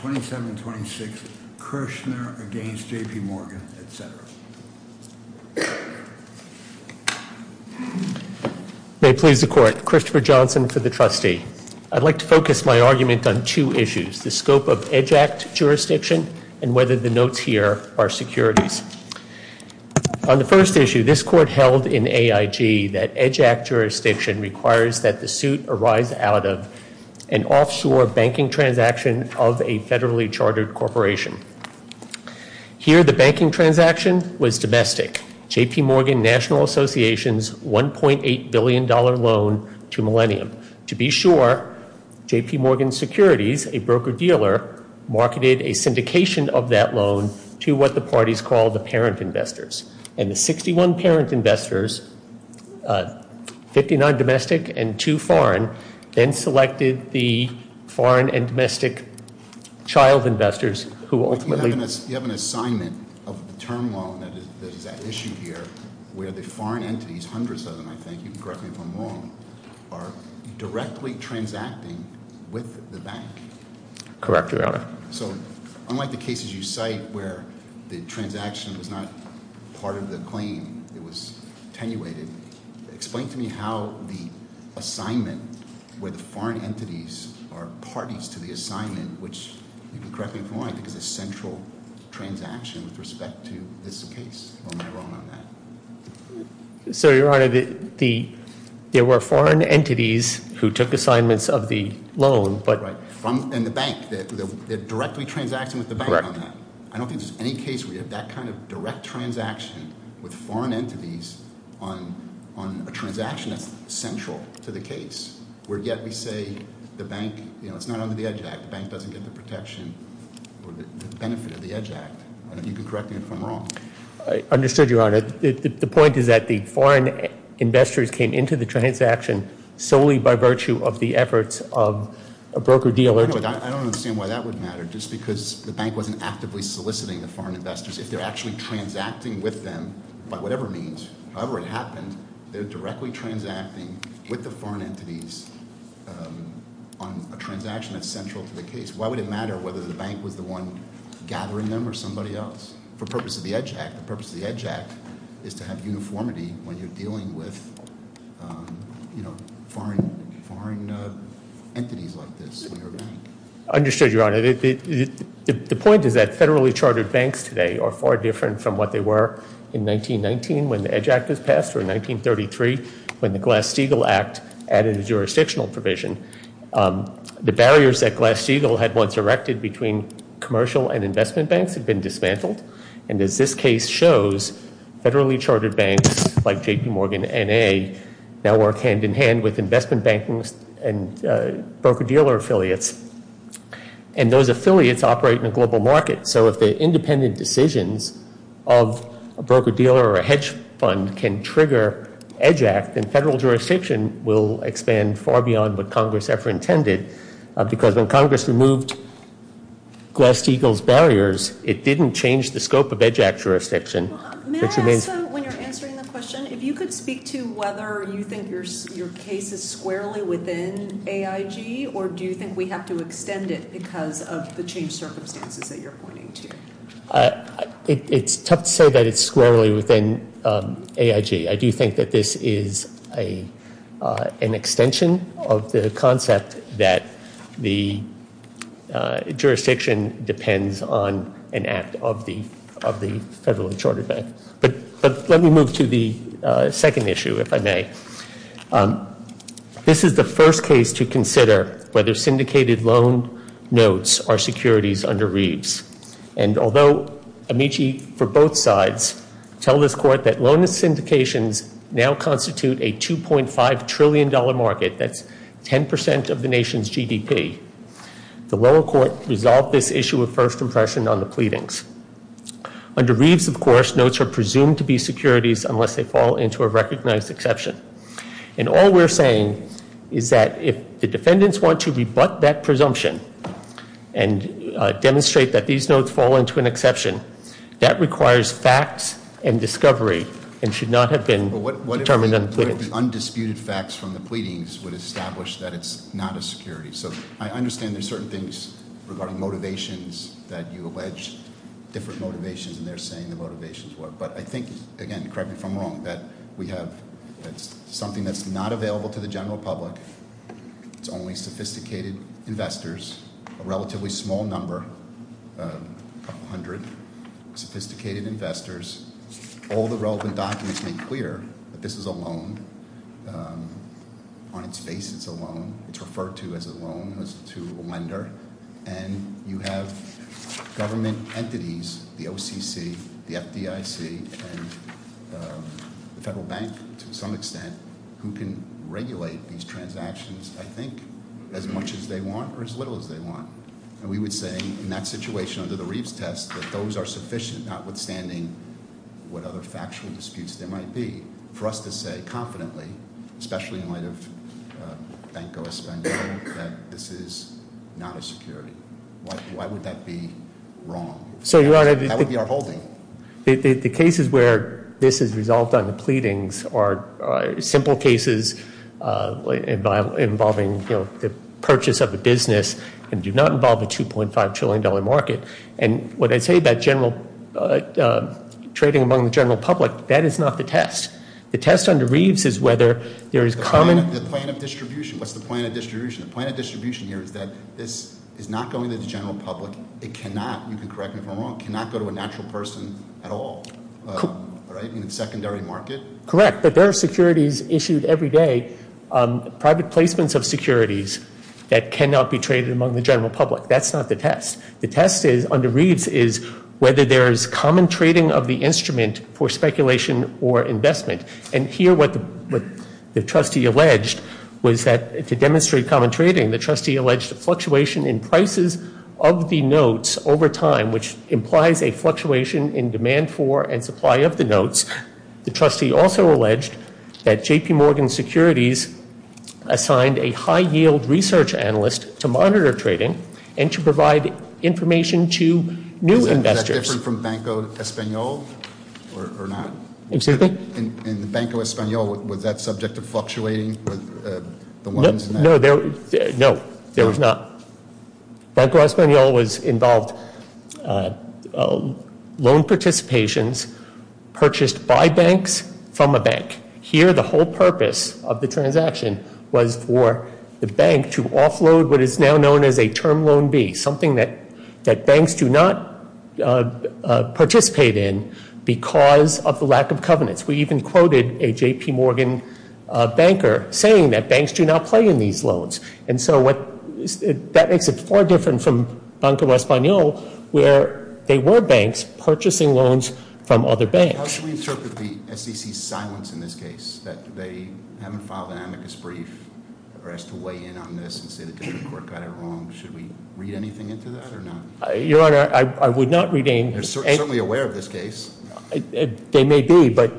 2726 Kirschner v. JP Morgan, etc. May it please the court. Christopher Johnson for the trustee. I'd like to focus my argument on two issues. The scope of EDGE Act jurisdiction and whether the notes here are securities. On the first issue, this court held in AIG that EDGE Act jurisdiction requires that the suit arise out of an offshore banking transaction of a federally chartered corporation. Here, the banking transaction was domestic. JP Morgan National Association's $1.8 billion loan to Millennium. To be sure, JP Morgan Securities, a broker-dealer, marketed a syndication of that loan to what the parties call the parent investors. And the 61 parent investors, 59 domestic and 2 foreign, then selected the foreign and domestic child investors who ultimately- You have an assignment of the term loan that is at issue here where the foreign entities, hundreds of them I think, you can correct me if I'm wrong, are directly transacting with the bank. Correct, Your Honor. So unlike the cases you cite where the transaction was not part of the claim, it was attenuated, explain to me how the assignment where the foreign entities are parties to the assignment, which you can correct me if I'm wrong, is a central transaction with respect to this case. Or am I wrong on that? Sir, Your Honor, there were foreign entities who took assignments of the loan, but- And the bank, they're directly transacting with the bank on that. I don't think there's any case where you have that kind of direct transaction with foreign entities on a transaction that's central to the case, where yet we say the bank, it's not under the EDGE Act, the bank doesn't get the protection or the benefit of the EDGE Act. You can correct me if I'm wrong. I understood, Your Honor. The point is that the foreign investors came into the transaction solely by virtue of the efforts of a broker-dealer- I don't understand why that would matter. Just because the bank wasn't actively soliciting the foreign investors, if they're actually transacting with them by whatever means, however it happened, they're directly transacting with the foreign entities on a transaction that's central to the EDGE Act. The purpose of the EDGE Act is to have uniformity when you're dealing with foreign entities like this. Understood, Your Honor. The point is that federally chartered banks today are far different from what they were in 1919 when the EDGE Act was passed or in 1933 when the Glass-Steagall Act added a jurisdictional provision. The barriers that Glass-Steagall had once erected between commercial and investment banks have been dismantled. And as this case shows, federally chartered banks like J.P. Morgan, N.A. now work hand-in-hand with investment banking and broker-dealer affiliates. And those affiliates operate in a global market. So if the independent decisions of a broker-dealer or a hedge fund can trigger EDGE Act, then federal jurisdiction will expand far beyond what Congress ever intended. Because when Congress removed Glass-Steagall's barriers, it didn't change the scope of EDGE Act jurisdiction. May I ask, when you're answering the question, if you could speak to whether you think your case is squarely within AIG or do you think we have to extend it because of the change circumstances that you're pointing to? It's tough to say that it's squarely within AIG. I do think that this is an extension of the concept that the jurisdiction depends on an act of the federally chartered bank. But let me move to the second issue, if I may. This is the first case to consider whether syndicated loan notes are securities under Reeves. And although Amici for both sides tell this court that loan syndications now constitute a $2.5 trillion market, that's 10% of the nation's GDP, the lower court resolved this issue of first impression on the pleadings. Under Reeves, of course, notes are presumed to be securities unless they fall into a recognized exception. And all we're saying is that if the defendants want to rebut that presumption and demonstrate that these notes fall into an exception, that requires facts and discovery and should not have been determined on the pleading. But what if the undisputed facts from the pleadings would establish that it's not a security? So I understand there's certain things regarding motivations that you allege different motivations and they're saying the motivations were. But I think, again, correct me if I'm wrong, that we have something that's not available to the general public. It's only sophisticated investors, a relatively small number, a couple hundred sophisticated investors. All the relevant documents make clear that this is a loan. On its face, it's a loan. It's referred to as a loan, as to a lender. And you have government entities, the OCC, the FDIC, and the Federal Bank, to some extent, who can regulate these transactions, I think, as much as they want or as little as they want. And we would say in that situation, under the Reeves test, that those are sufficient, notwithstanding what other factual disputes there might be. For us to say confidently, especially in light of Bankoa's spending, that this is not a security. Why would that be wrong? That would be our holding. The cases where this is resolved on the pleadings are simple cases involving the purchase of a business and do not involve a $2.5 trillion market. And what I say about the plan of distribution, what's the plan of distribution? The plan of distribution here is that this is not going to the general public. It cannot, you can correct me if I'm wrong, cannot go to a natural person at all, in the secondary market. Correct, but there are securities issued every day, private placements of securities that cannot be traded among the general public. That's not the test. The test under Reeves is whether there is common trading of the instrument for speculation or investment. And here what the trustee alleged was that to demonstrate common trading, the trustee alleged a fluctuation in prices of the notes over time, which implies a fluctuation in demand for and supply of the notes. The trustee also alleged that J.P. Morgan Securities assigned a high yield research analyst to monitor trading and to provide information to new investors. Is that different from Banco Espanol or not? Excuse me? In the Banco Espanol, was that subject to fluctuating with the loans and that? No, there was not. Banco Espanol involved loan participations purchased by banks from a bank. Here the whole purpose of the transaction was for the bank to offload what is now known as a term loan B, something that banks do not participate in because of the lack of covenants. We even quoted a J.P. Morgan banker saying that banks do not play in these loans. And so that makes it far different from Banco Espanol where they were banks purchasing loans from other banks. How should we interpret the SEC's silence in this case that they haven't filed an amicus brief or asked to weigh in on this and say the district court got it wrong? Should we read anything into that or not? Your Honor, I would not read anything. They're certainly aware of this case. They may be, but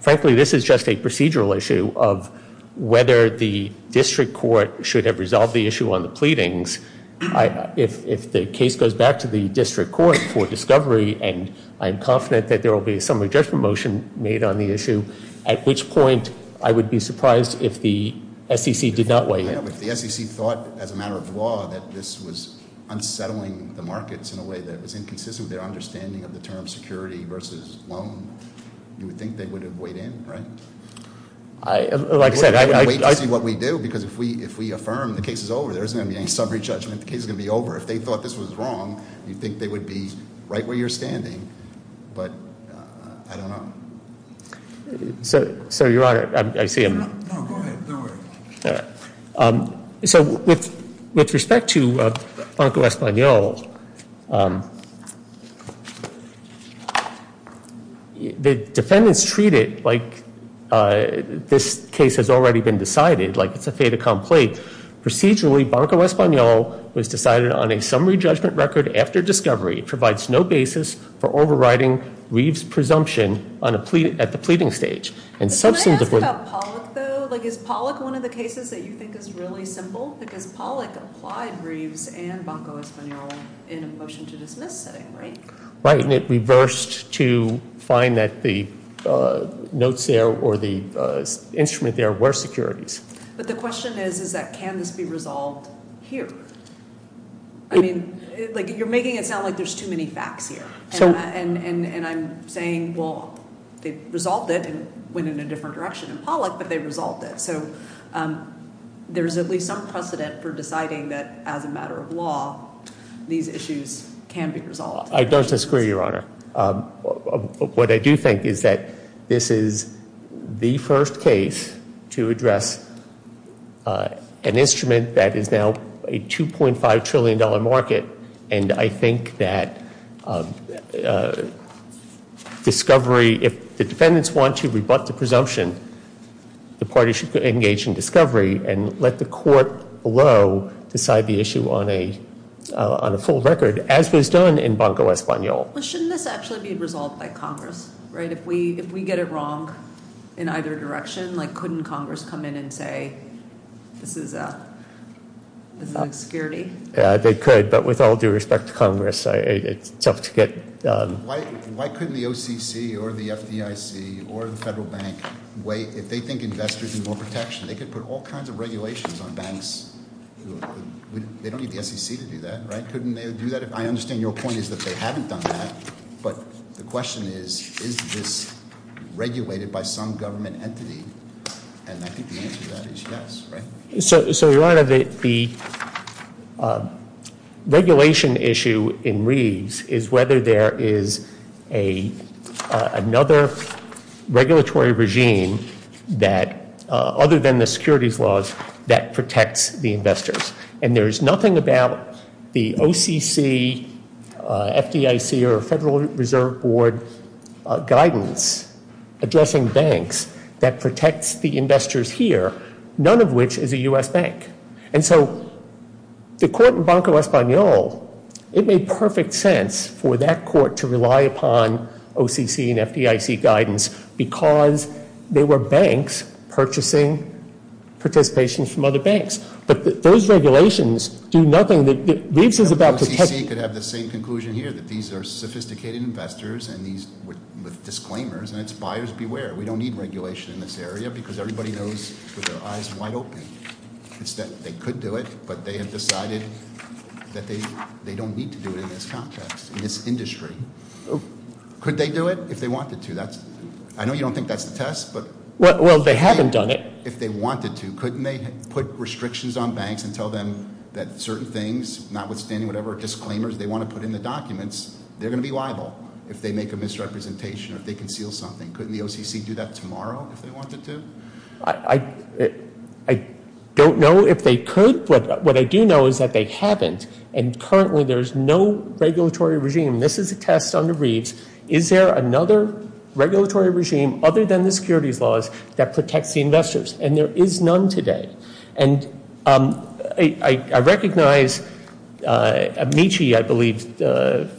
frankly this is just a procedural issue of whether the district court should have resolved the issue on the pleadings. If the case goes back to the district court for discovery and I'm confident that there will be a summary judgment motion made on the issue, at which point I would be surprised if the SEC did not weigh in. If the SEC thought as a matter of law that this was unsettling the markets in a way that was inconsistent with their understanding of the term security versus loan, you would think they would have weighed in, right? Like I said, I'd wait to see what we do because if we affirm the case is over, there isn't going to be any summary judgment. The case is going to be over. If they thought this was wrong, you'd think they would be right where you're standing, but I don't know. So, Your Honor, I see him. No, go ahead. Don't worry. With respect to Banco Espanol, the defendants treat it like this case has already been decided, like it's a fait accompli. Procedurally, Banco Espanol was decided on a summary judgment record after discovery. It provides no basis for overriding Reeves' presumption at the pleading stage. Can I ask about Pollock, though? Is Pollock one of the cases that you think is really simple? Because Pollock applied Reeves and Banco Espanol in a motion to dismiss setting, right? Right. And it reversed to find that the notes there or the instrument there were securities. But the question is, is that can this be resolved here? I mean, you're making it sound like there's too many facts here. And I'm saying, well, they resolved it and went in a different direction in Pollock, but they resolved it. So there's at least some precedent for deciding that as a matter of law, these issues can be resolved. I don't disagree, Your Honor. What I do think is that this is the first case to address an instrument that is now a $2.5 trillion market. And I think that discovery, if the defendants want to rebut the presumption, the party should engage in discovery and let the court below decide the issue on a full record, as was done in Banco Espanol. Shouldn't this actually be resolved by Congress, right? If we get it wrong in either direction, couldn't Congress come in and say, this is a security? They could, but with all due respect to Congress, it's tough to get Why couldn't the OCC or the FDIC or the Federal Bank wait? If they think investors need more protection, they could put all kinds of regulations on banks. They don't need the SEC to do that, right? Couldn't they do that? I understand your point is that they haven't done that. But the question is, is this regulated by some government entity? And I think the answer to that is yes, right? So, Your Honor, the regulation issue in Reeves is whether there is another regulatory regime that, other than the securities laws, that protects the investors. And there is nothing about the OCC, FDIC or Federal Reserve Board guidance addressing banks that protects the investors here, none of which is a U.S. bank. And so the court in Banco Espanol, it made perfect sense for that court to rely upon OCC and FDIC guidance because they were banks purchasing participation from other banks. But those regulations do nothing that OCC could have the same conclusion here, that these are sophisticated investors with disclaimers and it's buyers beware. We don't need regulation in this area because everybody knows with their eyes wide open. They could do it, but they have decided that they don't need to do it in this context, in this industry. Could they do it? If they wanted to. I know you don't think that's the test. Well, they haven't done it. If they wanted to, couldn't they put restrictions on banks and tell them that certain things, notwithstanding whatever disclaimers they want to put in the documents, they're going to be liable if they make a misrepresentation or if they conceal something. Couldn't the OCC do that tomorrow if they wanted to? I don't know if they could, but what I do know is that they haven't. And currently there's no regulatory regime. This is a test under Reeves. Is there another regulatory regime other than the securities laws that protects the investors? And there is none today. And I recognize Amici, I believe,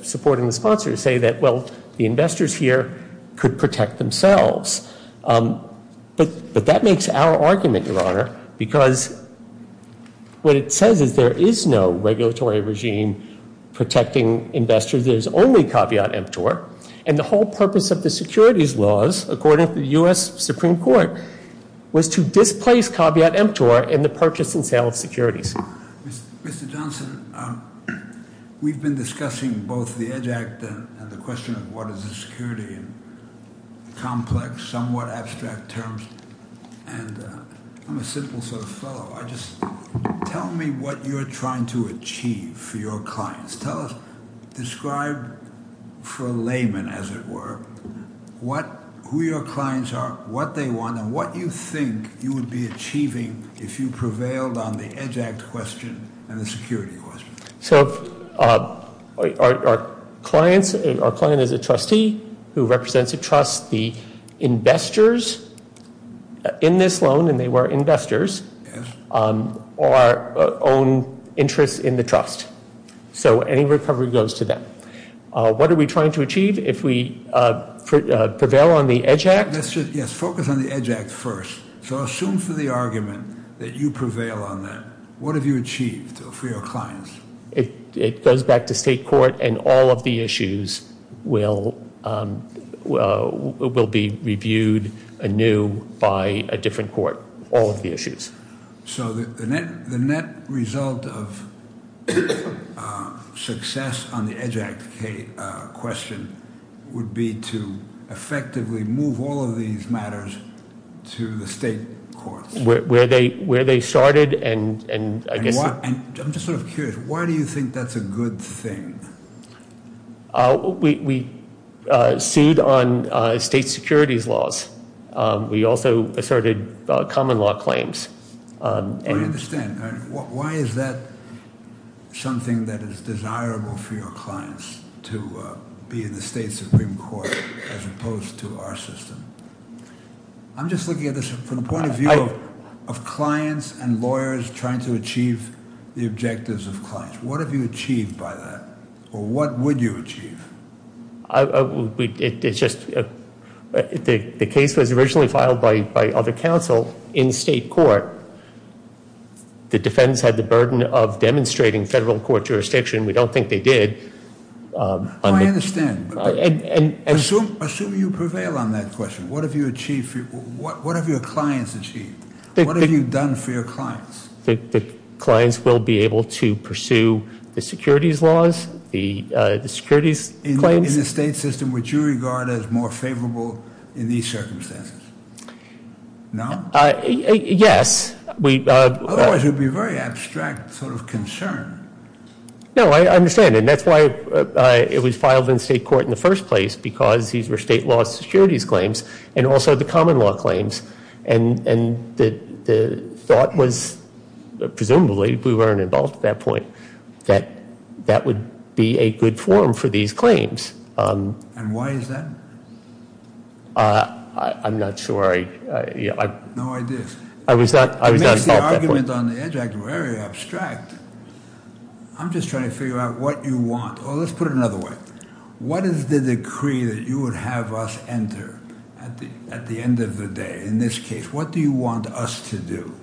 supporting the sponsor, say that, well, the investors here could protect themselves. But that makes our argument, Your Honor, because what it says is there is no regulatory regime protecting investors. There's only caveat emptor. And the whole purpose of the securities laws, according to the U.S. Supreme Court, was to displace caveat emptor in the purchase and sale of securities. Mr. Johnson, we've been discussing both the EDGE Act and the question of what is a security in complex, somewhat abstract terms. And I'm a simple sort of fellow. Tell me what you're trying to achieve for your clients. Describe for a layman, as it were, who your clients are, what they want, and what you think you would be achieving if you prevailed on the EDGE Act question and the security question. So our client is a trustee who represents a trust. The investors in this loan, and they were investors, are own interests in the trust. So any recovery goes to them. What are we trying to achieve if we prevail on the EDGE Act? Yes, focus on the EDGE Act first. So assume for the argument that you prevail on that. What have you achieved for your clients? It goes back to state court and all of the issues will be reviewed anew by a different court. All of the issues. So the net result of success on the EDGE Act question would be to effectively move all of these matters to the state courts. I'm just sort of curious. Why do you think that's a good thing? We sued on state securities laws. We also asserted common law claims. I understand. Why is that something that is desirable for your clients to be in the state Supreme Court as opposed to our system? I'm just looking at this from the standpoint of clients and lawyers trying to achieve the objectives of clients. What have you achieved by that? Or what would you achieve? The case was originally filed by other counsel in state court. The defendants had the burden of demonstrating federal court jurisdiction. We don't think they did. I understand. Assume you prevail on that question. What have your clients achieved? What have you done for your clients? The clients will be able to pursue the securities laws, the securities claims. In the state system, would you regard as more favorable in these circumstances? No? Yes. Otherwise it would be a very abstract sort of concern. No, I understand. That's why it was filed in state court in the first place because these were state law securities claims and also the common law claims. The thought was, presumably, we weren't involved at that point, that that would be a good forum for these claims. Why is that? I'm not sure. No idea. To make the argument on the EDGE Act very abstract, I'm just trying to figure out what you want. Let's put it another way. What is the decree that you would have us enter at the end of the day? In this case, what do you want us to do?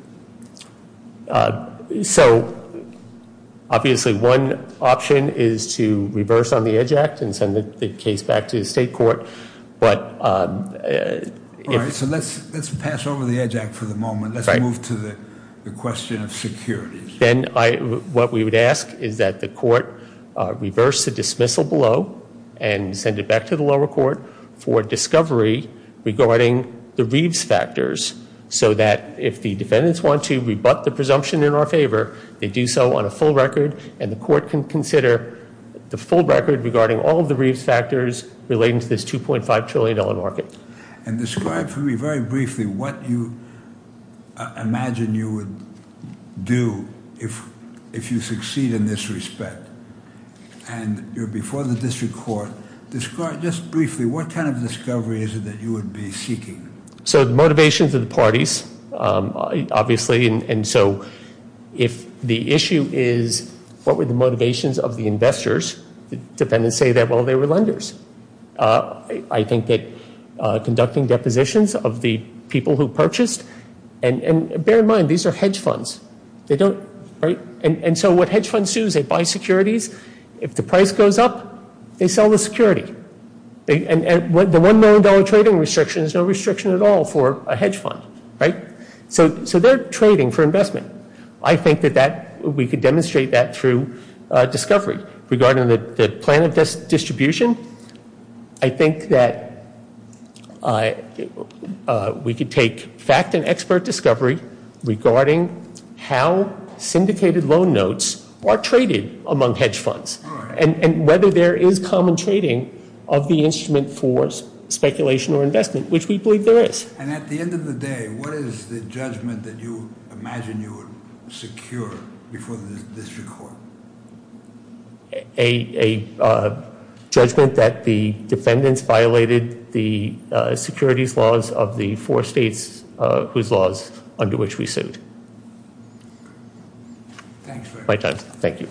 Obviously, one option is to reverse on the EDGE Act and send the case back to the state court. Let's pass over the EDGE Act for the moment. Let's move to the question of securities. What we would ask is that the court reverse the dismissal below and send it back to the lower court for discovery regarding the Reeves factors so that if the defendants want to rebut the presumption in our favor, they do so on a full record and the court can consider the full record regarding all of the Reeves factors relating to this $2.5 trillion market. Describe to me very briefly what you imagine you would do if you succeed in this respect. Before the district court, describe just briefly what kind of discovery is it that you would be seeking? The motivations of the parties, obviously. If the issue is what were the motivations of the investors, the defendants say that they were lenders. I think that conducting depositions of the people who purchased. Bear in mind, these are hedge funds. What hedge funds do is they buy securities. If the price goes up, they sell the security. The $1 million trading restriction is no restriction at all for a hedge fund. So they're trading for investment. I think that we could demonstrate that through discovery regarding the plan of distribution. I think that we could take fact and expert discovery regarding how there is common trading of the instrument for speculation or investment, which we believe there is. And at the end of the day, what is the judgment that you imagine you would secure before the district court? A judgment that the defendants violated the securities laws of the four states whose laws under which we sued. Thank you.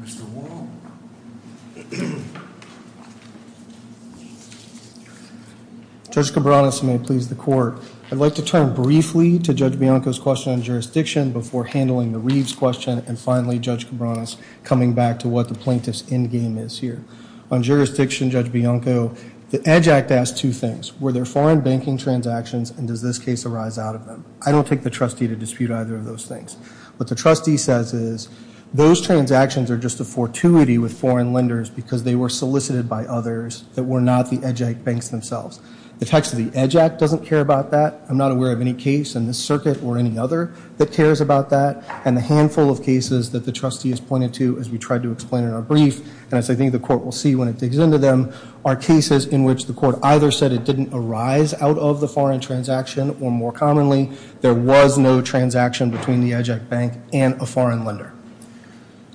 Mr. Wall. Judge Cabranes may please the court. I'd like to turn briefly to Judge Bianco's question on jurisdiction before handling the Reeves question and finally Judge Cabranes coming back to what the plaintiff's endgame is here. On jurisdiction, Judge Bianco, the EDGE Act asks two things. Were there foreign banking transactions and does this case arise out of them? I don't take the trustee to dispute either of those things. What the trustee says is those transactions are just a fortuity with foreign lenders because they were solicited by others that were not the EDGE Act banks themselves. The text of the EDGE Act doesn't care about that. I'm not aware of any case in this circuit or any other that cares about that. And the handful of cases that the trustee has pointed to as we tried to explain in our brief, and as I think the court will see when it digs into them, are cases in which the court either said it didn't arise out of the foreign transaction or more commonly there was no transaction between the EDGE Act bank and a foreign lender.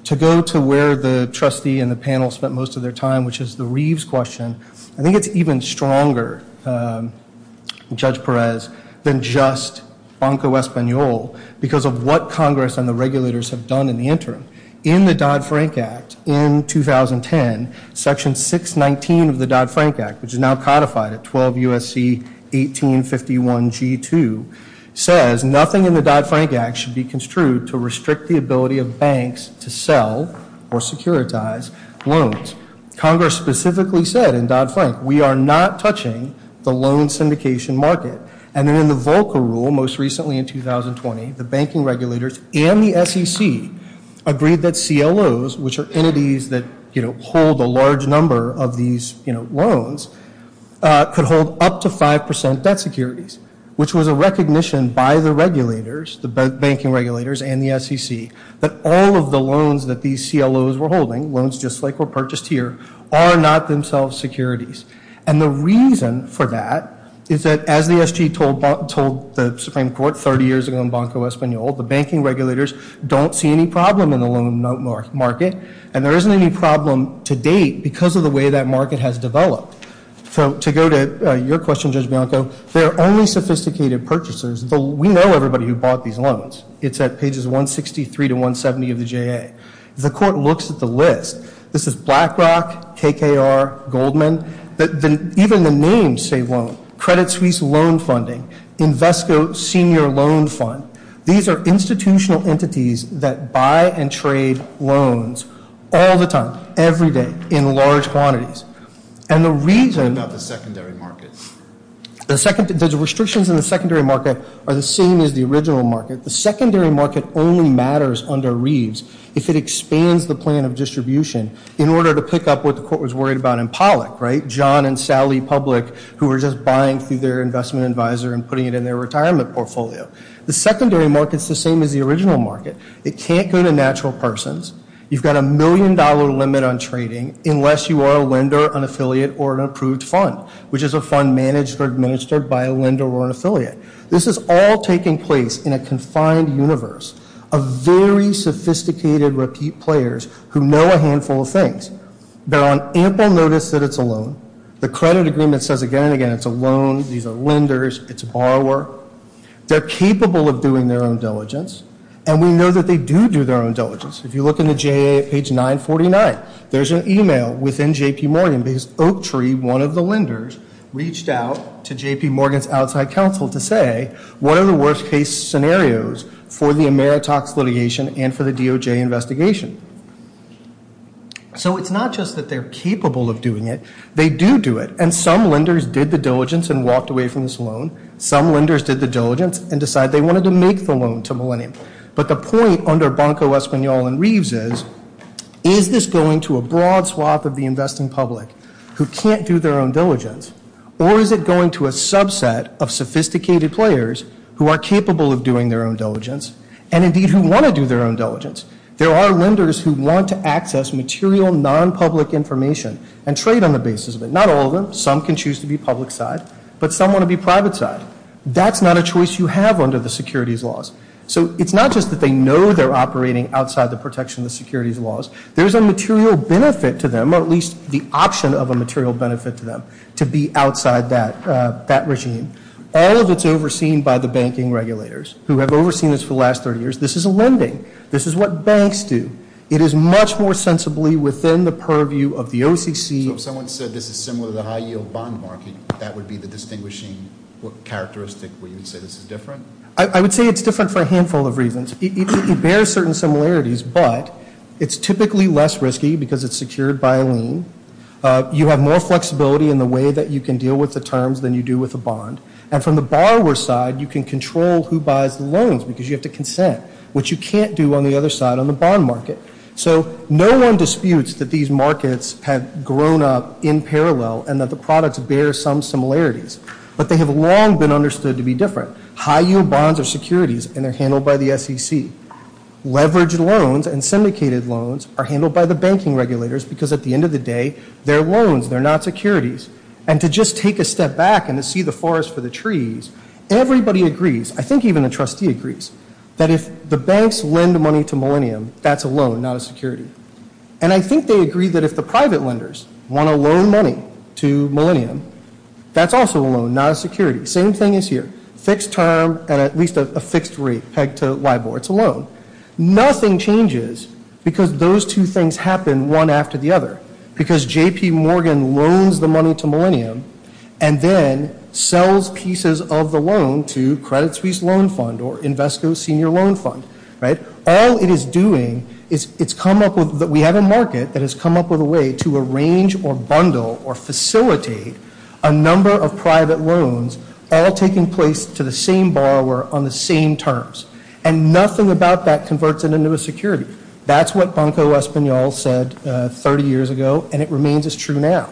To go to where the trustee and the panel spent most of their time, which is the Reeves question, I think it's even stronger, Judge Congress and the regulators have done in the interim. In the Dodd-Frank Act in 2010, Section 619 of the Dodd-Frank Act, which is now codified at 12 U.S.C. 1851 G2, says nothing in the Dodd-Frank Act should be construed to restrict the ability of banks to sell or securitize loans. Congress specifically said in Dodd-Frank, we are not touching the loan syndication market. And in the Volcker Rule, most recently in 2020, the banking regulators and the SEC agreed that CLOs, which are entities that hold a large number of these loans, could hold up to 5% debt securities, which was a recognition by the regulators, the banking regulators and the SEC, that all of the loans that these CLOs were holding, loans just like were purchased here, are not themselves securities. And the reason for that is that as the SEC told the Supreme Court 30 years ago in Banco Espanol, the banking regulators don't see any problem in the loan market, and there isn't any problem to date because of the way that market has developed. So to go to your question, Judge Bianco, there are only sophisticated purchasers. We know everybody who bought these loans. It's at pages 163 to 170 of the JA. The court looks at the list. This is BlackRock, KKR, Goldman. Even the names say loan. Credit Suisse Loan Funding, Invesco Senior Loan Fund. These are institutional entities that buy and trade loans all the time, every day, in large quantities. And the reason... What about the secondary market? The second, the restrictions in the under Reeves, if it expands the plan of distribution in order to pick up what the court was worried about in Pollack, right? John and Sally Public, who were just buying through their investment advisor and putting it in their retirement portfolio. The secondary market is the same as the original market. It can't go to natural persons. You've got a million dollar limit on trading unless you are a lender, an affiliate, or an approved fund, which is a fund managed or administered by a lender or affiliate. This is all taking place in a confined universe of very sophisticated repeat players who know a handful of things. They're on ample notice that it's a loan. The credit agreement says again and again it's a loan. These are lenders. It's a borrower. They're capable of doing their own diligence. And we know that they do do their own diligence. If you look in the JA, page 949, there's an email within JP Morgan because Oak Tree, one of the lenders, reached out to JP Morgan's outside counsel to say, what are the worst case scenarios for the Ameritox litigation and for the DOJ investigation? So it's not just that they're capable of doing it. They do do it. And some lenders did the diligence and walked away from this loan. Some lenders did the diligence and decided they wanted to make the loan to Millennium. But the point under that is, is it a broad swath of the investing public who can't do their own diligence? Or is it going to a subset of sophisticated players who are capable of doing their own diligence and indeed who want to do their own diligence? There are lenders who want to access material non-public information and trade on the basis of it. Not all of them. Some can choose to be public side. But some want to be private side. That's not a choice you have under the securities laws. So it's not just that they know they're operating outside the protection of the securities laws. There's a material benefit to them, or at least the option of a material benefit to them, to be outside that regime. All of it's overseen by the banking regulators who have overseen this for the last 30 years. This is a lending. This is what banks do. It is much more sensibly within the purview of the OCC. So if someone said this is similar to the high-yield bond market, that would be the distinguishing characteristic where you would say this is different? I would say it's different for a handful of reasons. It bears certain similarities, but it's typically less risky because it's secured by a lien. You have more flexibility in the way that you can deal with the terms than you do with a bond. And from the borrower's side, you can control who buys the loans because you have to consent, which you can't do on the other side on the bond market. So no one disputes that these markets have grown up in parallel and that the products bear some similarities, but they have long been understood to be different. High-yield bonds are securities and they're handled by the SEC. Leveraged loans and syndicated loans are handled by the banking regulators because at the end of the day, they're loans, they're not securities. And to just take a step back and to see the forest for the trees, everybody agrees, I think even the trustee agrees, that if the banks lend money to Millennium, that's a loan, not a security. And I think they agree that if the private lenders want to loan money to Millennium, that's also a loan, not a security. Same thing as here. Fixed term at at least a fixed rate pegged to LIBOR, it's a loan. Nothing changes because those two things happen one after the other. Because J.P. Morgan loans the money to Millennium and then sells pieces of the loan to Credit Suisse Loan Fund or Invesco Senior Loan Fund, right? All it is doing is it's come up with, we have a market that has come up with a way to arrange or bundle or facilitate a number of private loans all taking place to the same borrower on the same terms. And nothing about that converts it into a security. That's what Banco Español said 30 years ago and it remains as true now.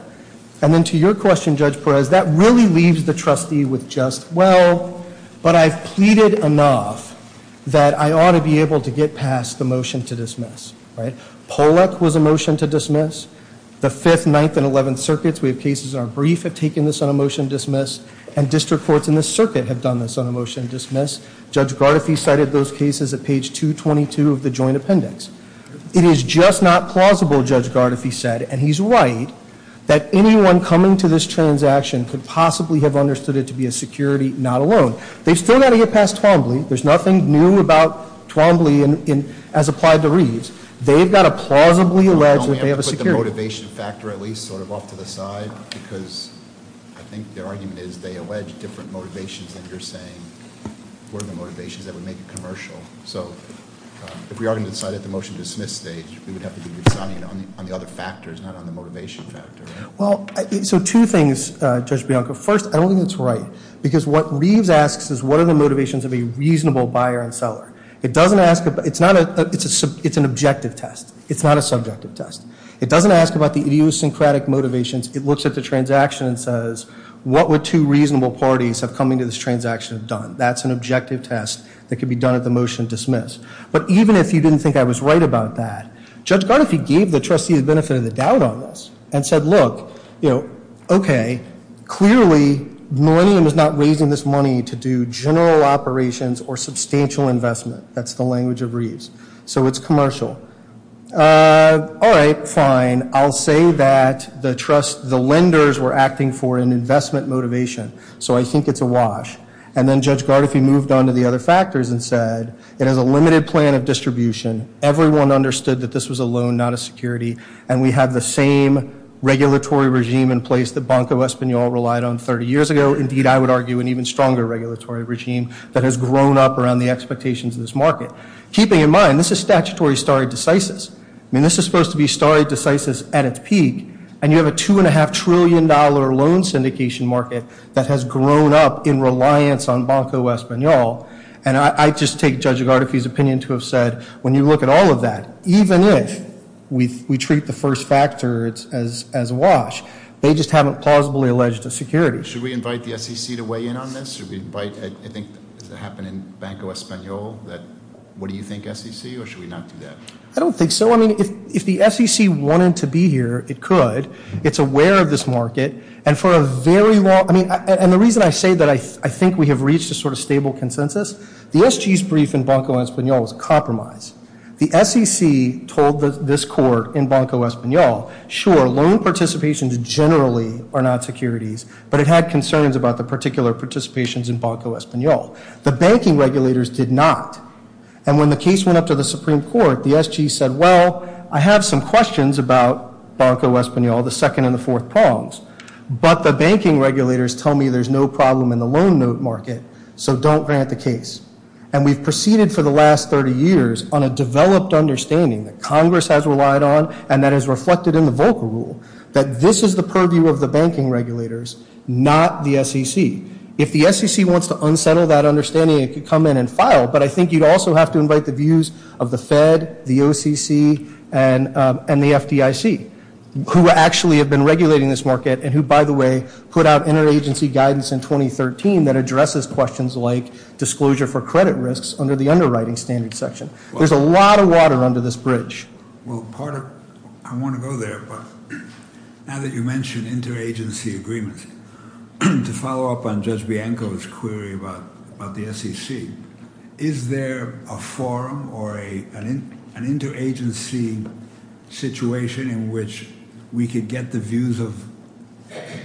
And then to your question, Judge Perez, that really leaves the trustee with just, well, but I've pleaded enough that I ought to be able to get past the motion to dismiss, right? Pollack was a motion to dismiss. The 5th, 9th, and 11th circuits, we have cases in our brief have taken this on a motion to dismiss. And district courts in this circuit have done this on a motion to dismiss. Judge Gardefee cited those cases at page 222 of the joint appendix. It is just not plausible, Judge Gardefee said, and he's right, that anyone coming to this transaction could possibly have understood it to be a security, not a loan. They've still got to get past Twombly. There's nothing new about Twombly as applied to Reeves. They've got to plausibly allege that they have a security. Let me put the motivation factor at least sort of off to the side because I think their argument is they allege different motivations than you're saying were the motivations that would make a commercial. So if we are going to decide at the motion to dismiss stage, we would have to decide on the other factors, not on the motivation factor, right? Well, so two things, Judge Bianco. First, I don't think that's right because what Reeves asks is what are the motivations of a reasonable buyer and seller. It doesn't ask, it's an objective test. It's not a subjective test. It doesn't ask about the idiosyncratic motivations. It looks at the transaction and says, what would two reasonable parties have come into this transaction have done? That's an objective test that could be done at the motion to dismiss. But even if you didn't think I was right about that, Judge Gardefee gave the trustee the benefit of the doubt on this and said, look, you know, okay, clearly Millennium is not raising this money to do general operations or substantial investment. That's the language of Reeves. So it's commercial. All right, fine. I'll say that the trust, the lenders were acting for an investment motivation. So I think it's a wash. And then Judge Gardefee moved on to the other factors and said, it has a limited plan of distribution. Everyone understood that this was a loan, not a security. And we have the same regulatory regime in place that Banco Espanol relied on 30 years ago. Indeed, I would argue an even stronger regulatory regime that has grown up around the expectations of this market. Keeping in mind, this is statutory stare decisis. I mean, this is supposed to be stare decisis at its peak. And you have a $2.5 trillion loan syndication market that has grown up in reliance on Banco Espanol. And I just take Judge Gardefee's opinion to have said, when you look at all of that, even if we treat the first factor as a wash, they just haven't plausibly alleged a security. Should we invite the SEC to weigh in on this? Should we invite, I think, does it happen in Banco Espanol? What do you think, SEC? Or should we not do that? I don't think so. I mean, if the SEC wanted to be here, it could. It's aware of this market. And for a very long, I mean, and the reason I say that I think we have reached a sort of stable consensus, the SG's brief in Banco Espanol was a compromise. The SEC told this court in Banco Espanol, sure, loan participations generally are not securities. But it had concerns about the particular participations in Banco Espanol. The banking regulators did not. And when the case went up to the Supreme Court, the SG said, well, I have some questions about Banco Espanol, the second and the fourth prongs. But the banking regulators tell me there's no note market. So don't grant the case. And we've proceeded for the last 30 years on a developed understanding that Congress has relied on and that is reflected in the Volcker rule that this is the purview of the banking regulators, not the SEC. If the SEC wants to unsettle that understanding, it could come in and file. But I think you'd also have to invite the views of the Fed, the OCC, and the FDIC, who actually have been regulating this market and who, by the way, put out interagency guidance in 2013 that addresses questions like disclosure for credit risks under the underwriting standard section. There's a lot of water under this bridge. Well, part of, I want to go there, but now that you mention interagency agreements, to follow up on Judge Bianco's query about the SEC, is there a forum or an interagency situation in which we could get the views of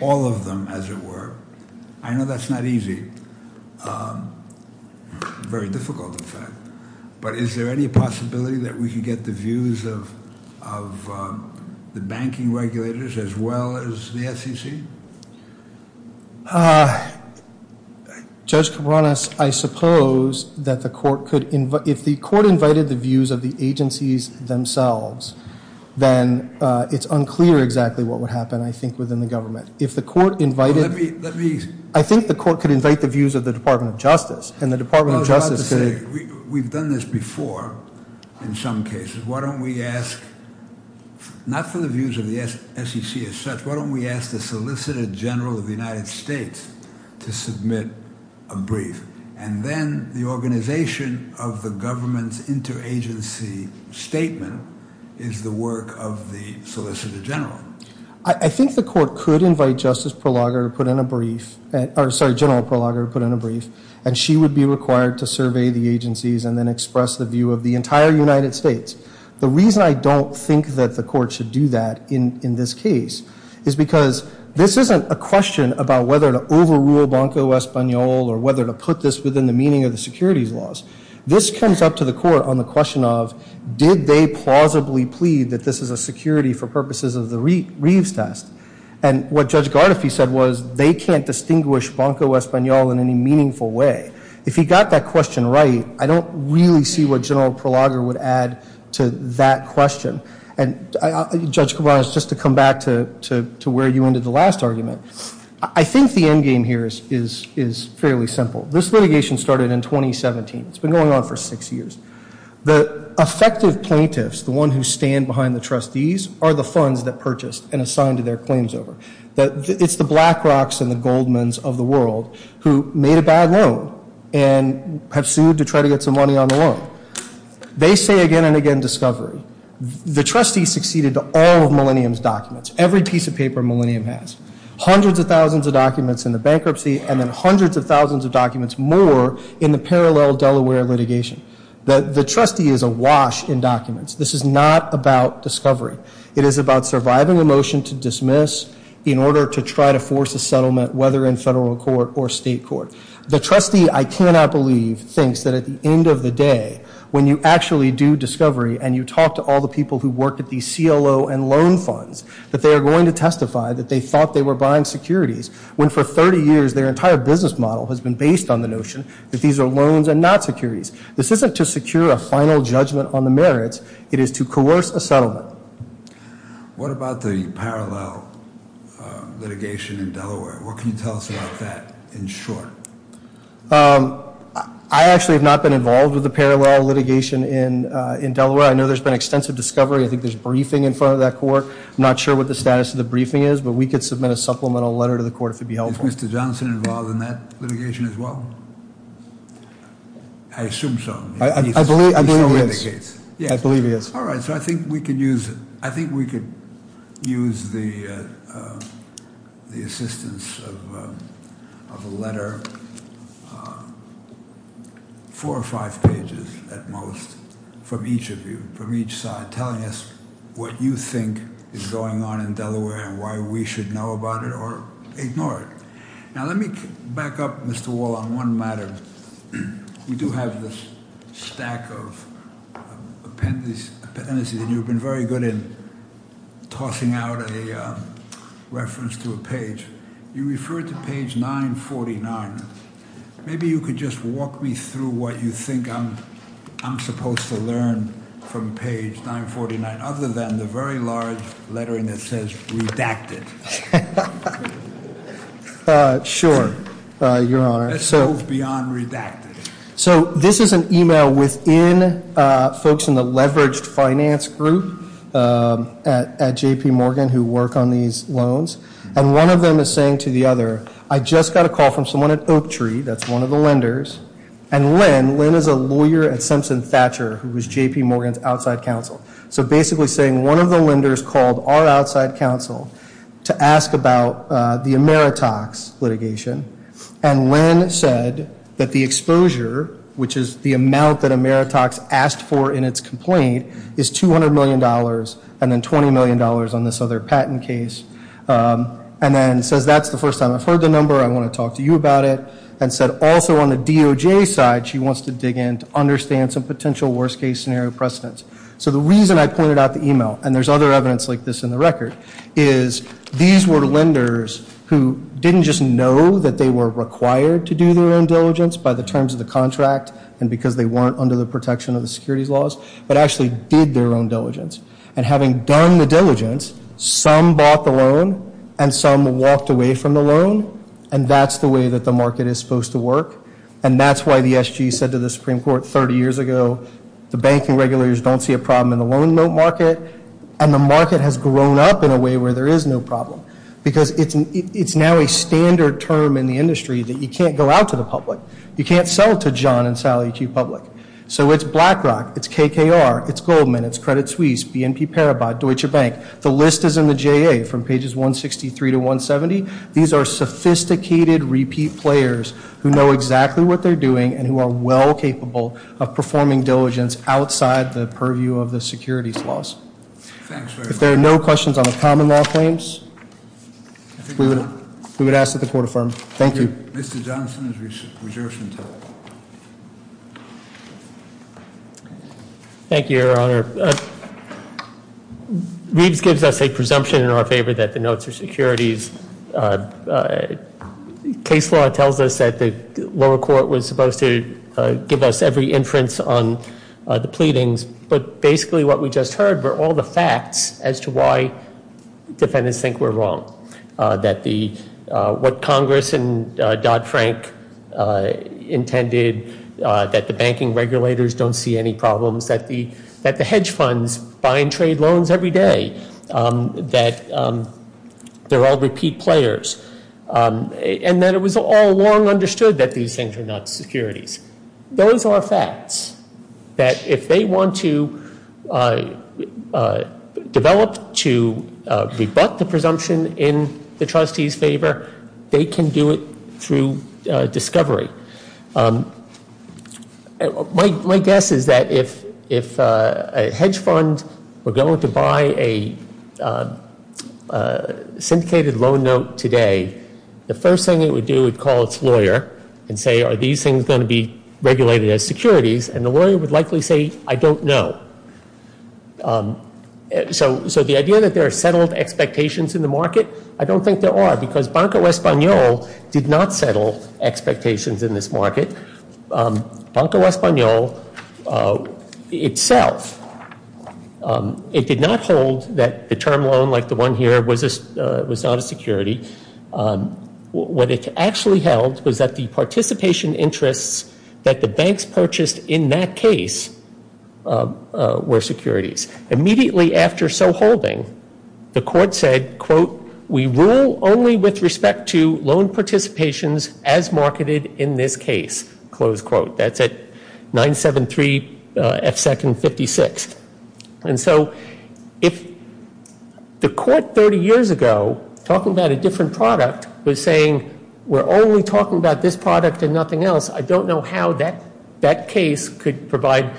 all of them, as it were? I know that's not easy. Very difficult, in fact. But is there any possibility that we could get the views of the banking regulators as well as the SEC? Judge Kipronos, I suppose that if the court invited the views of the agencies themselves, then it's unclear exactly what would happen, I think, within the government. I think the court could invite the views of the Department of Justice. We've done this before in some cases. Why don't we ask the Solicitor General of the United States to submit a brief? And then the organization of the government's interagency statement is the work of the Solicitor General. I think the court could invite Justice Prologer to put in a brief, or sorry, General Prologer to put in a brief, and she would be required to survey the agencies and then express the view of the entire United States. The reason I don't think that the court should do that in this case is because this isn't a question about whether to overrule Banco Español or whether to put this within the meaning of the securities laws. This comes up to the court on the question of did they plausibly plead that this is a security for purposes of the Reeves test? And what Judge Gardefee said was they can't distinguish Banco Español in any meaningful way. If he got that question right, I don't really see what General Prologer would add to that question. And Judge Kovanez, just to come back to where you ended the last argument, I think the end game here is fairly simple. This litigation started in 2017. It's been going on for six years. The effective plaintiffs, the one who stand behind the trustees, are the funds that purchased and assigned to their claims over. It's the Black Rocks and the Goldmans of the world who made a bad loan and have sued to try to get some money on the loan. They say again and again discovery. The trustees succeeded to all of Millennium's documents. Every piece of paper Millennium has. Hundreds of thousands of documents in the bankruptcy and then hundreds of thousands of documents more in the parallel Delaware litigation. The trustee is awash in documents. This is not about discovery. It is about surviving a motion to dismiss in order to try to force a settlement whether in federal court or state court. The trustee, I cannot believe, thinks that at the end of the day when you actually do discovery and you talk to all the people who work at these CLO and loan funds, that they are going to testify that they thought they were buying securities when for 30 years their entire business model has been based on the notion that these are loans and not securities. This isn't to secure a final judgment on the merits. It is to coerce a settlement. What about the parallel litigation in Delaware? What can you tell us about that in short? I actually have not been involved with the parallel litigation in Delaware. I know there's been extensive discovery. I think there's briefing in front of that court. I'm not sure what the status of the briefing is, but we could I assume so. I believe he is. All right. I think we could use the assistance of a letter, four or five pages at most from each of you, from each side, telling us what you think is going on in Delaware and why we should know about it or ignore it. Now let me back up, Mr. Wall, on one matter. You do have this stack of appendices and you've been very good in tossing out a reference to a page. You refer to page 949. Maybe you could just walk me through what you think I'm supposed to learn from page 949 other than the very large lettering that says redacted. Sure, Your Honor. It goes beyond redacted. This is an email within folks in the leveraged finance group at J.P. Morgan who work on these loans. And one of them is saying to the other, I just got a call from someone at Oak Tree, that's one of the lenders, and Lynn is a lawyer at Simpson Thatcher who was J.P. Morgan's outside counsel. So basically saying one of the lenders called our outside counsel to ask about the Ameritox litigation. And Lynn said that the exposure, which is the amount that Ameritox asked for in its complaint, is $200 million and then $20 million on this other patent case. And then says that's the first time I've heard the number. I want to talk to you about it. And said also on the DOJ side, she wants to dig in to understand some potential worst case scenario precedents. So the reason I pointed out the email, and there's other evidence like this in the record, is these were lenders who didn't just know that they were required to do their own diligence by the terms of the contract and because they weren't under the protection of the securities laws, but actually did their own diligence. And having done the diligence, some bought the loan and some walked away from the loan, and that's the way that the market is supposed to work. And that's why the SG said to the Supreme Court 30 years ago, the banking regulators don't see a problem in the loan market, and the market has grown up in a way where there is no problem. Because it's now a standard term in the industry that you can't go out to the public. You can't sell to John and Sally Q. Public. So it's BlackRock, it's KKR, it's Goldman, it's Credit Suisse, BNP Paribas, Deutsche Bank. The list is in the JA from pages 163 to 170. These are sophisticated repeat players who know exactly what they're doing and who are well capable of performing diligence outside the purview of the securities laws. If there are no questions on the common law claims, we would ask that the court affirm. Thank you. Thank you, Your Honor. Reeves gives us a presumption in our favor that the notes are securities. Case law tells us that the lower court was supposed to give us every inference on the pleadings, but basically what we just heard were all the facts as to why defendants think we're wrong. That what Congress and Dodd-Frank intended, that the banking regulators don't see any problems, that the hedge funds buy and trade loans every day, that they're all repeat players, and that it was all long understood that these things are not securities. Those are facts that if they want to develop to rebut the presumption in the trustee's favor, they can do it through discovery. My guess is that if a hedge fund were going to buy a syndicated loan note today, the first thing it would do is call its lawyer and say, are these things going to be regulated as securities? The lawyer would likely say, I don't know. The idea that there are settled expectations in the market, I don't think there are because Banco Español did not settle expectations in this market. Banco Español itself, it did not hold that the participation interests that the banks purchased in that case were securities. Immediately after so holding, the court said, quote, we rule only with respect to loan participations as marketed in this case, close quote. That's at 973 F 2nd 56th. And so if the court 30 years ago talking about a different product was saying, we're only talking about this product and nothing else, I don't know how that case could provide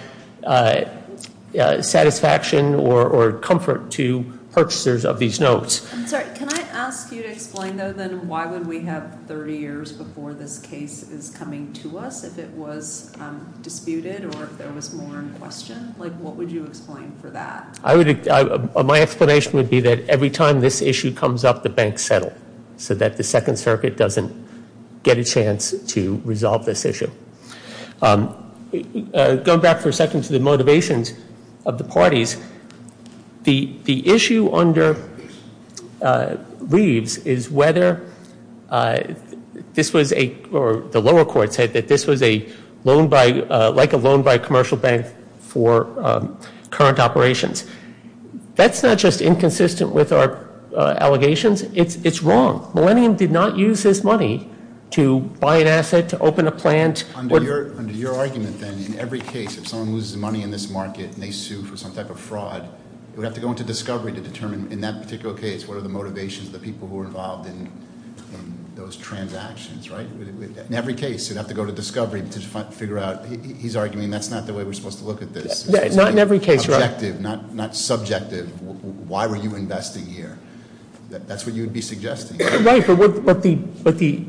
satisfaction or comfort to purchasers of these notes. Can I ask you to explain, though, then why would we have 30 years before this case is coming to us if it was disputed or if there was more in question? What would you explain for that? My explanation would be that every time this issue comes up, the banks settle so that the Second Circuit doesn't get a chance to resolve this issue. Going back for a second to the motivations of the parties, the issue under current operations. That's not just inconsistent with our allegations. It's wrong. Millennium did not use this money to buy an asset, to open a plant. Under your argument, then, in every case, if someone loses money in this market and they sue for some type of fraud, we have to go into discovery to determine in that particular case, what are the motivations of the people who are involved in those transactions, right? In every case, you'd have to go to discovery to figure out. He's arguing that's not the way we're supposed to look at this. Not in every case. Objective, not subjective. Why were you investing here? That's what you'd be suggesting. Right, but the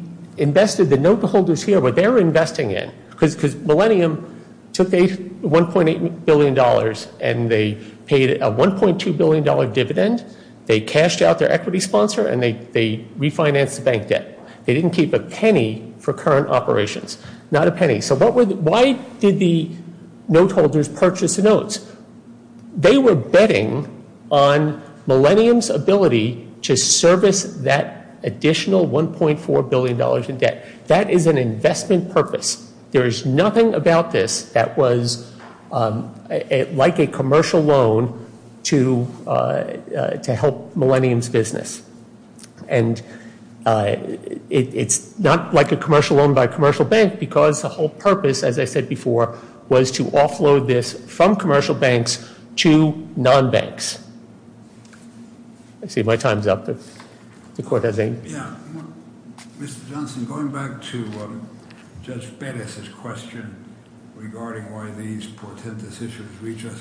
note holders here, what they're investing in, because Millennium took $1.8 billion and they paid a $1.2 billion dividend. They cashed out their equity sponsor and they refinanced the bank debt. They didn't keep a penny for current operations. Not a penny. So why did the note holders purchase the notes? They were betting on Millennium's ability to service that additional $1.4 billion in debt. That is an investment purpose. There is nothing about this that was like a commercial loan to help Millennium's business. And it's not like a commercial loan by a commercial bank because the whole purpose, as I said before, was to offload this from commercial banks to non-banks. I see my time's up. The court has any... Mr. Johnson, going back to Judge Pettis' question regarding why these portentous issues reached us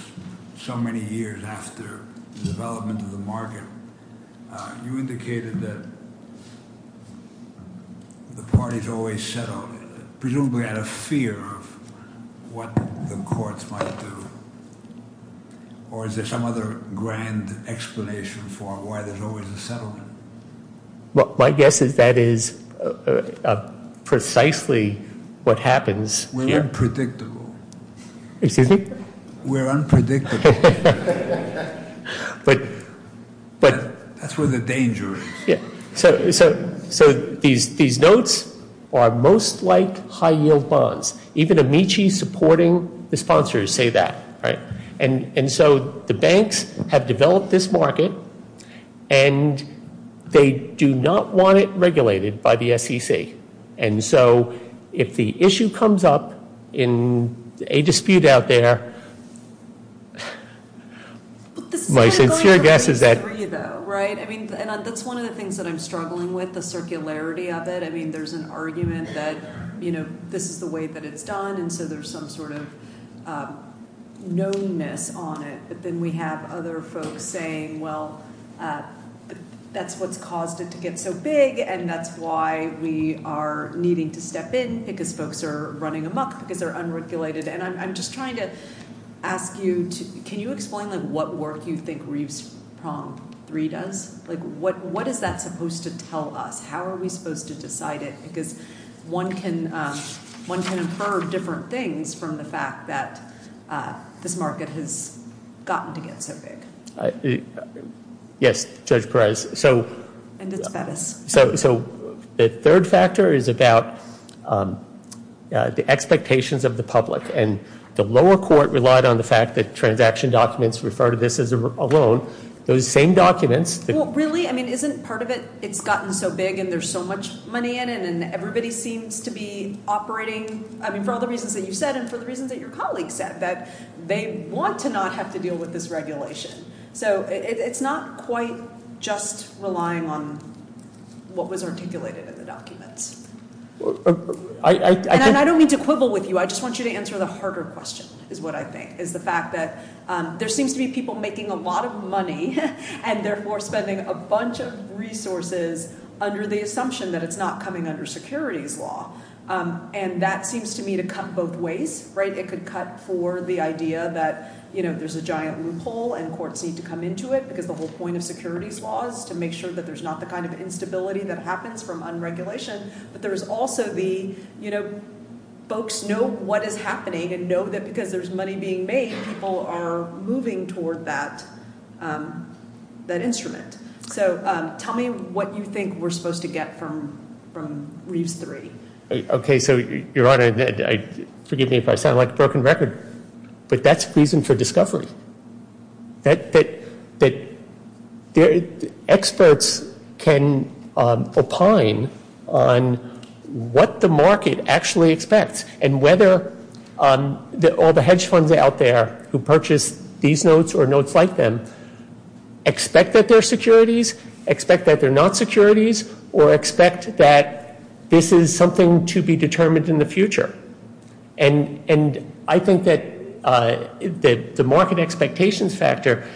so many years after the development of the market, you indicated that the parties always settled, presumably out of fear of what the courts might do. Or is there some other grand explanation for why there's always a settlement? My guess is that is precisely what happens. We're unpredictable. We're unpredictable. That's where the danger is. So these notes are most like high yield bonds. Even Amici supporting the sponsors say that. And so the banks have developed this market and they do not want it regulated by the SEC. And so if the issue comes up in a dispute out there... That's one of the things that I'm struggling with, the circularity of it. There's an argument that this is the way that it's done and so there's some sort of knownness on it. But then we have other folks saying, well, that's what's caused it to get so big and that's why we are needing to step in because folks are running amok because they're unregulated. And I'm just trying to ask you, can you explain what work you think Reeves Prompt 3 does? What is that supposed to tell us? How are we supposed to decide it? Because one can infer different things from the fact that this market has gotten to get so big. So the third factor is about the expectations of the public. And the lower court relied on the fact that transaction documents refer to this as a loan. Those same documents... Really? I mean, isn't part of it, it's gotten so big and there's so much money in it and everybody seems to be operating, I mean, for all the reasons that you said and for the reasons that your colleagues said, that they want to not have to deal with this regulation. So it's not quite just relying on what was articulated in the documents. And I don't mean to quibble with you, I just want you to answer the harder question is what I think, is the fact that there seems to be people making a lot of money and therefore spending a bunch of resources under the assumption that it's not coming under securities law. And that seems to me to cut both ways. It could cut for the idea that there's a giant loophole and courts need to come into it because the whole point of securities law is to make sure that there's not the kind of instability that happens from unregulation. But there's also the, you know, folks know what is happening and know that because there's money being made, people are moving toward that instrument. So tell me what you think we're supposed to get from Reeves 3. Okay, so Your Honor, forgive me if I sound like a broken record, but that's reason for discovery. Experts can opine on what the market actually expects and whether all the hedge funds out there who purchase these notes or notes like them expect that they're securities, expect that they're not securities, or expect that this is something to be determined in the future. And I think that the market expectations factor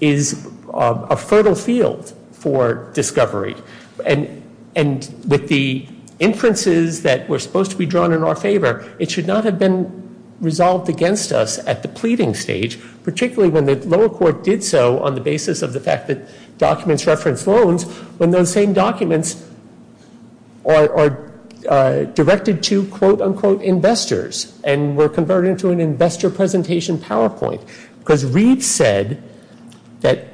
is a fertile field for discovery. And with the inferences that were supposed to be drawn in our favor, it should not have been resolved against us at the pleading stage, particularly when the lower court did so on the basis of the fact that those same documents are directed to investors and were converted into an investor presentation PowerPoint. Because Reeves said that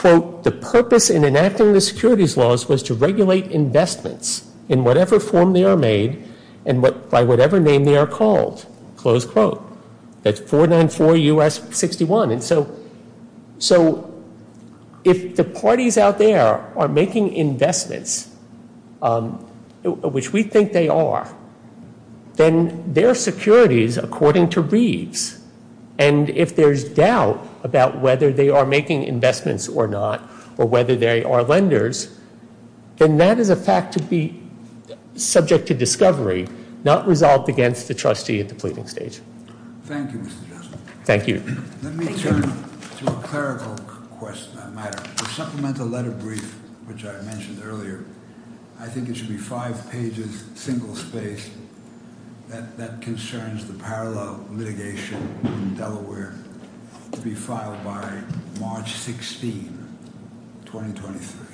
the purpose in enacting the securities laws was to regulate investments in whatever form they are made and by whatever name they are called. That's 494 U.S. 61. And so if the parties out there are making investments, which we think they are, then they're securities according to Reeves. And if there's doubt about whether they are making investments or not, or whether they are lenders, then that is a fact to be subject to discovery, not resolved against the trustee at the pleading stage. Thank you. Let me turn to a clerical matter. To supplement the letter brief, which I mentioned earlier, I think it should be five pages, single space. That concerns the parallel litigation in Delaware to be filed by March 16, 2023.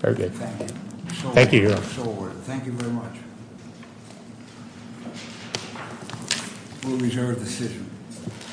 Very good. Thank you. Thank you. Thank you.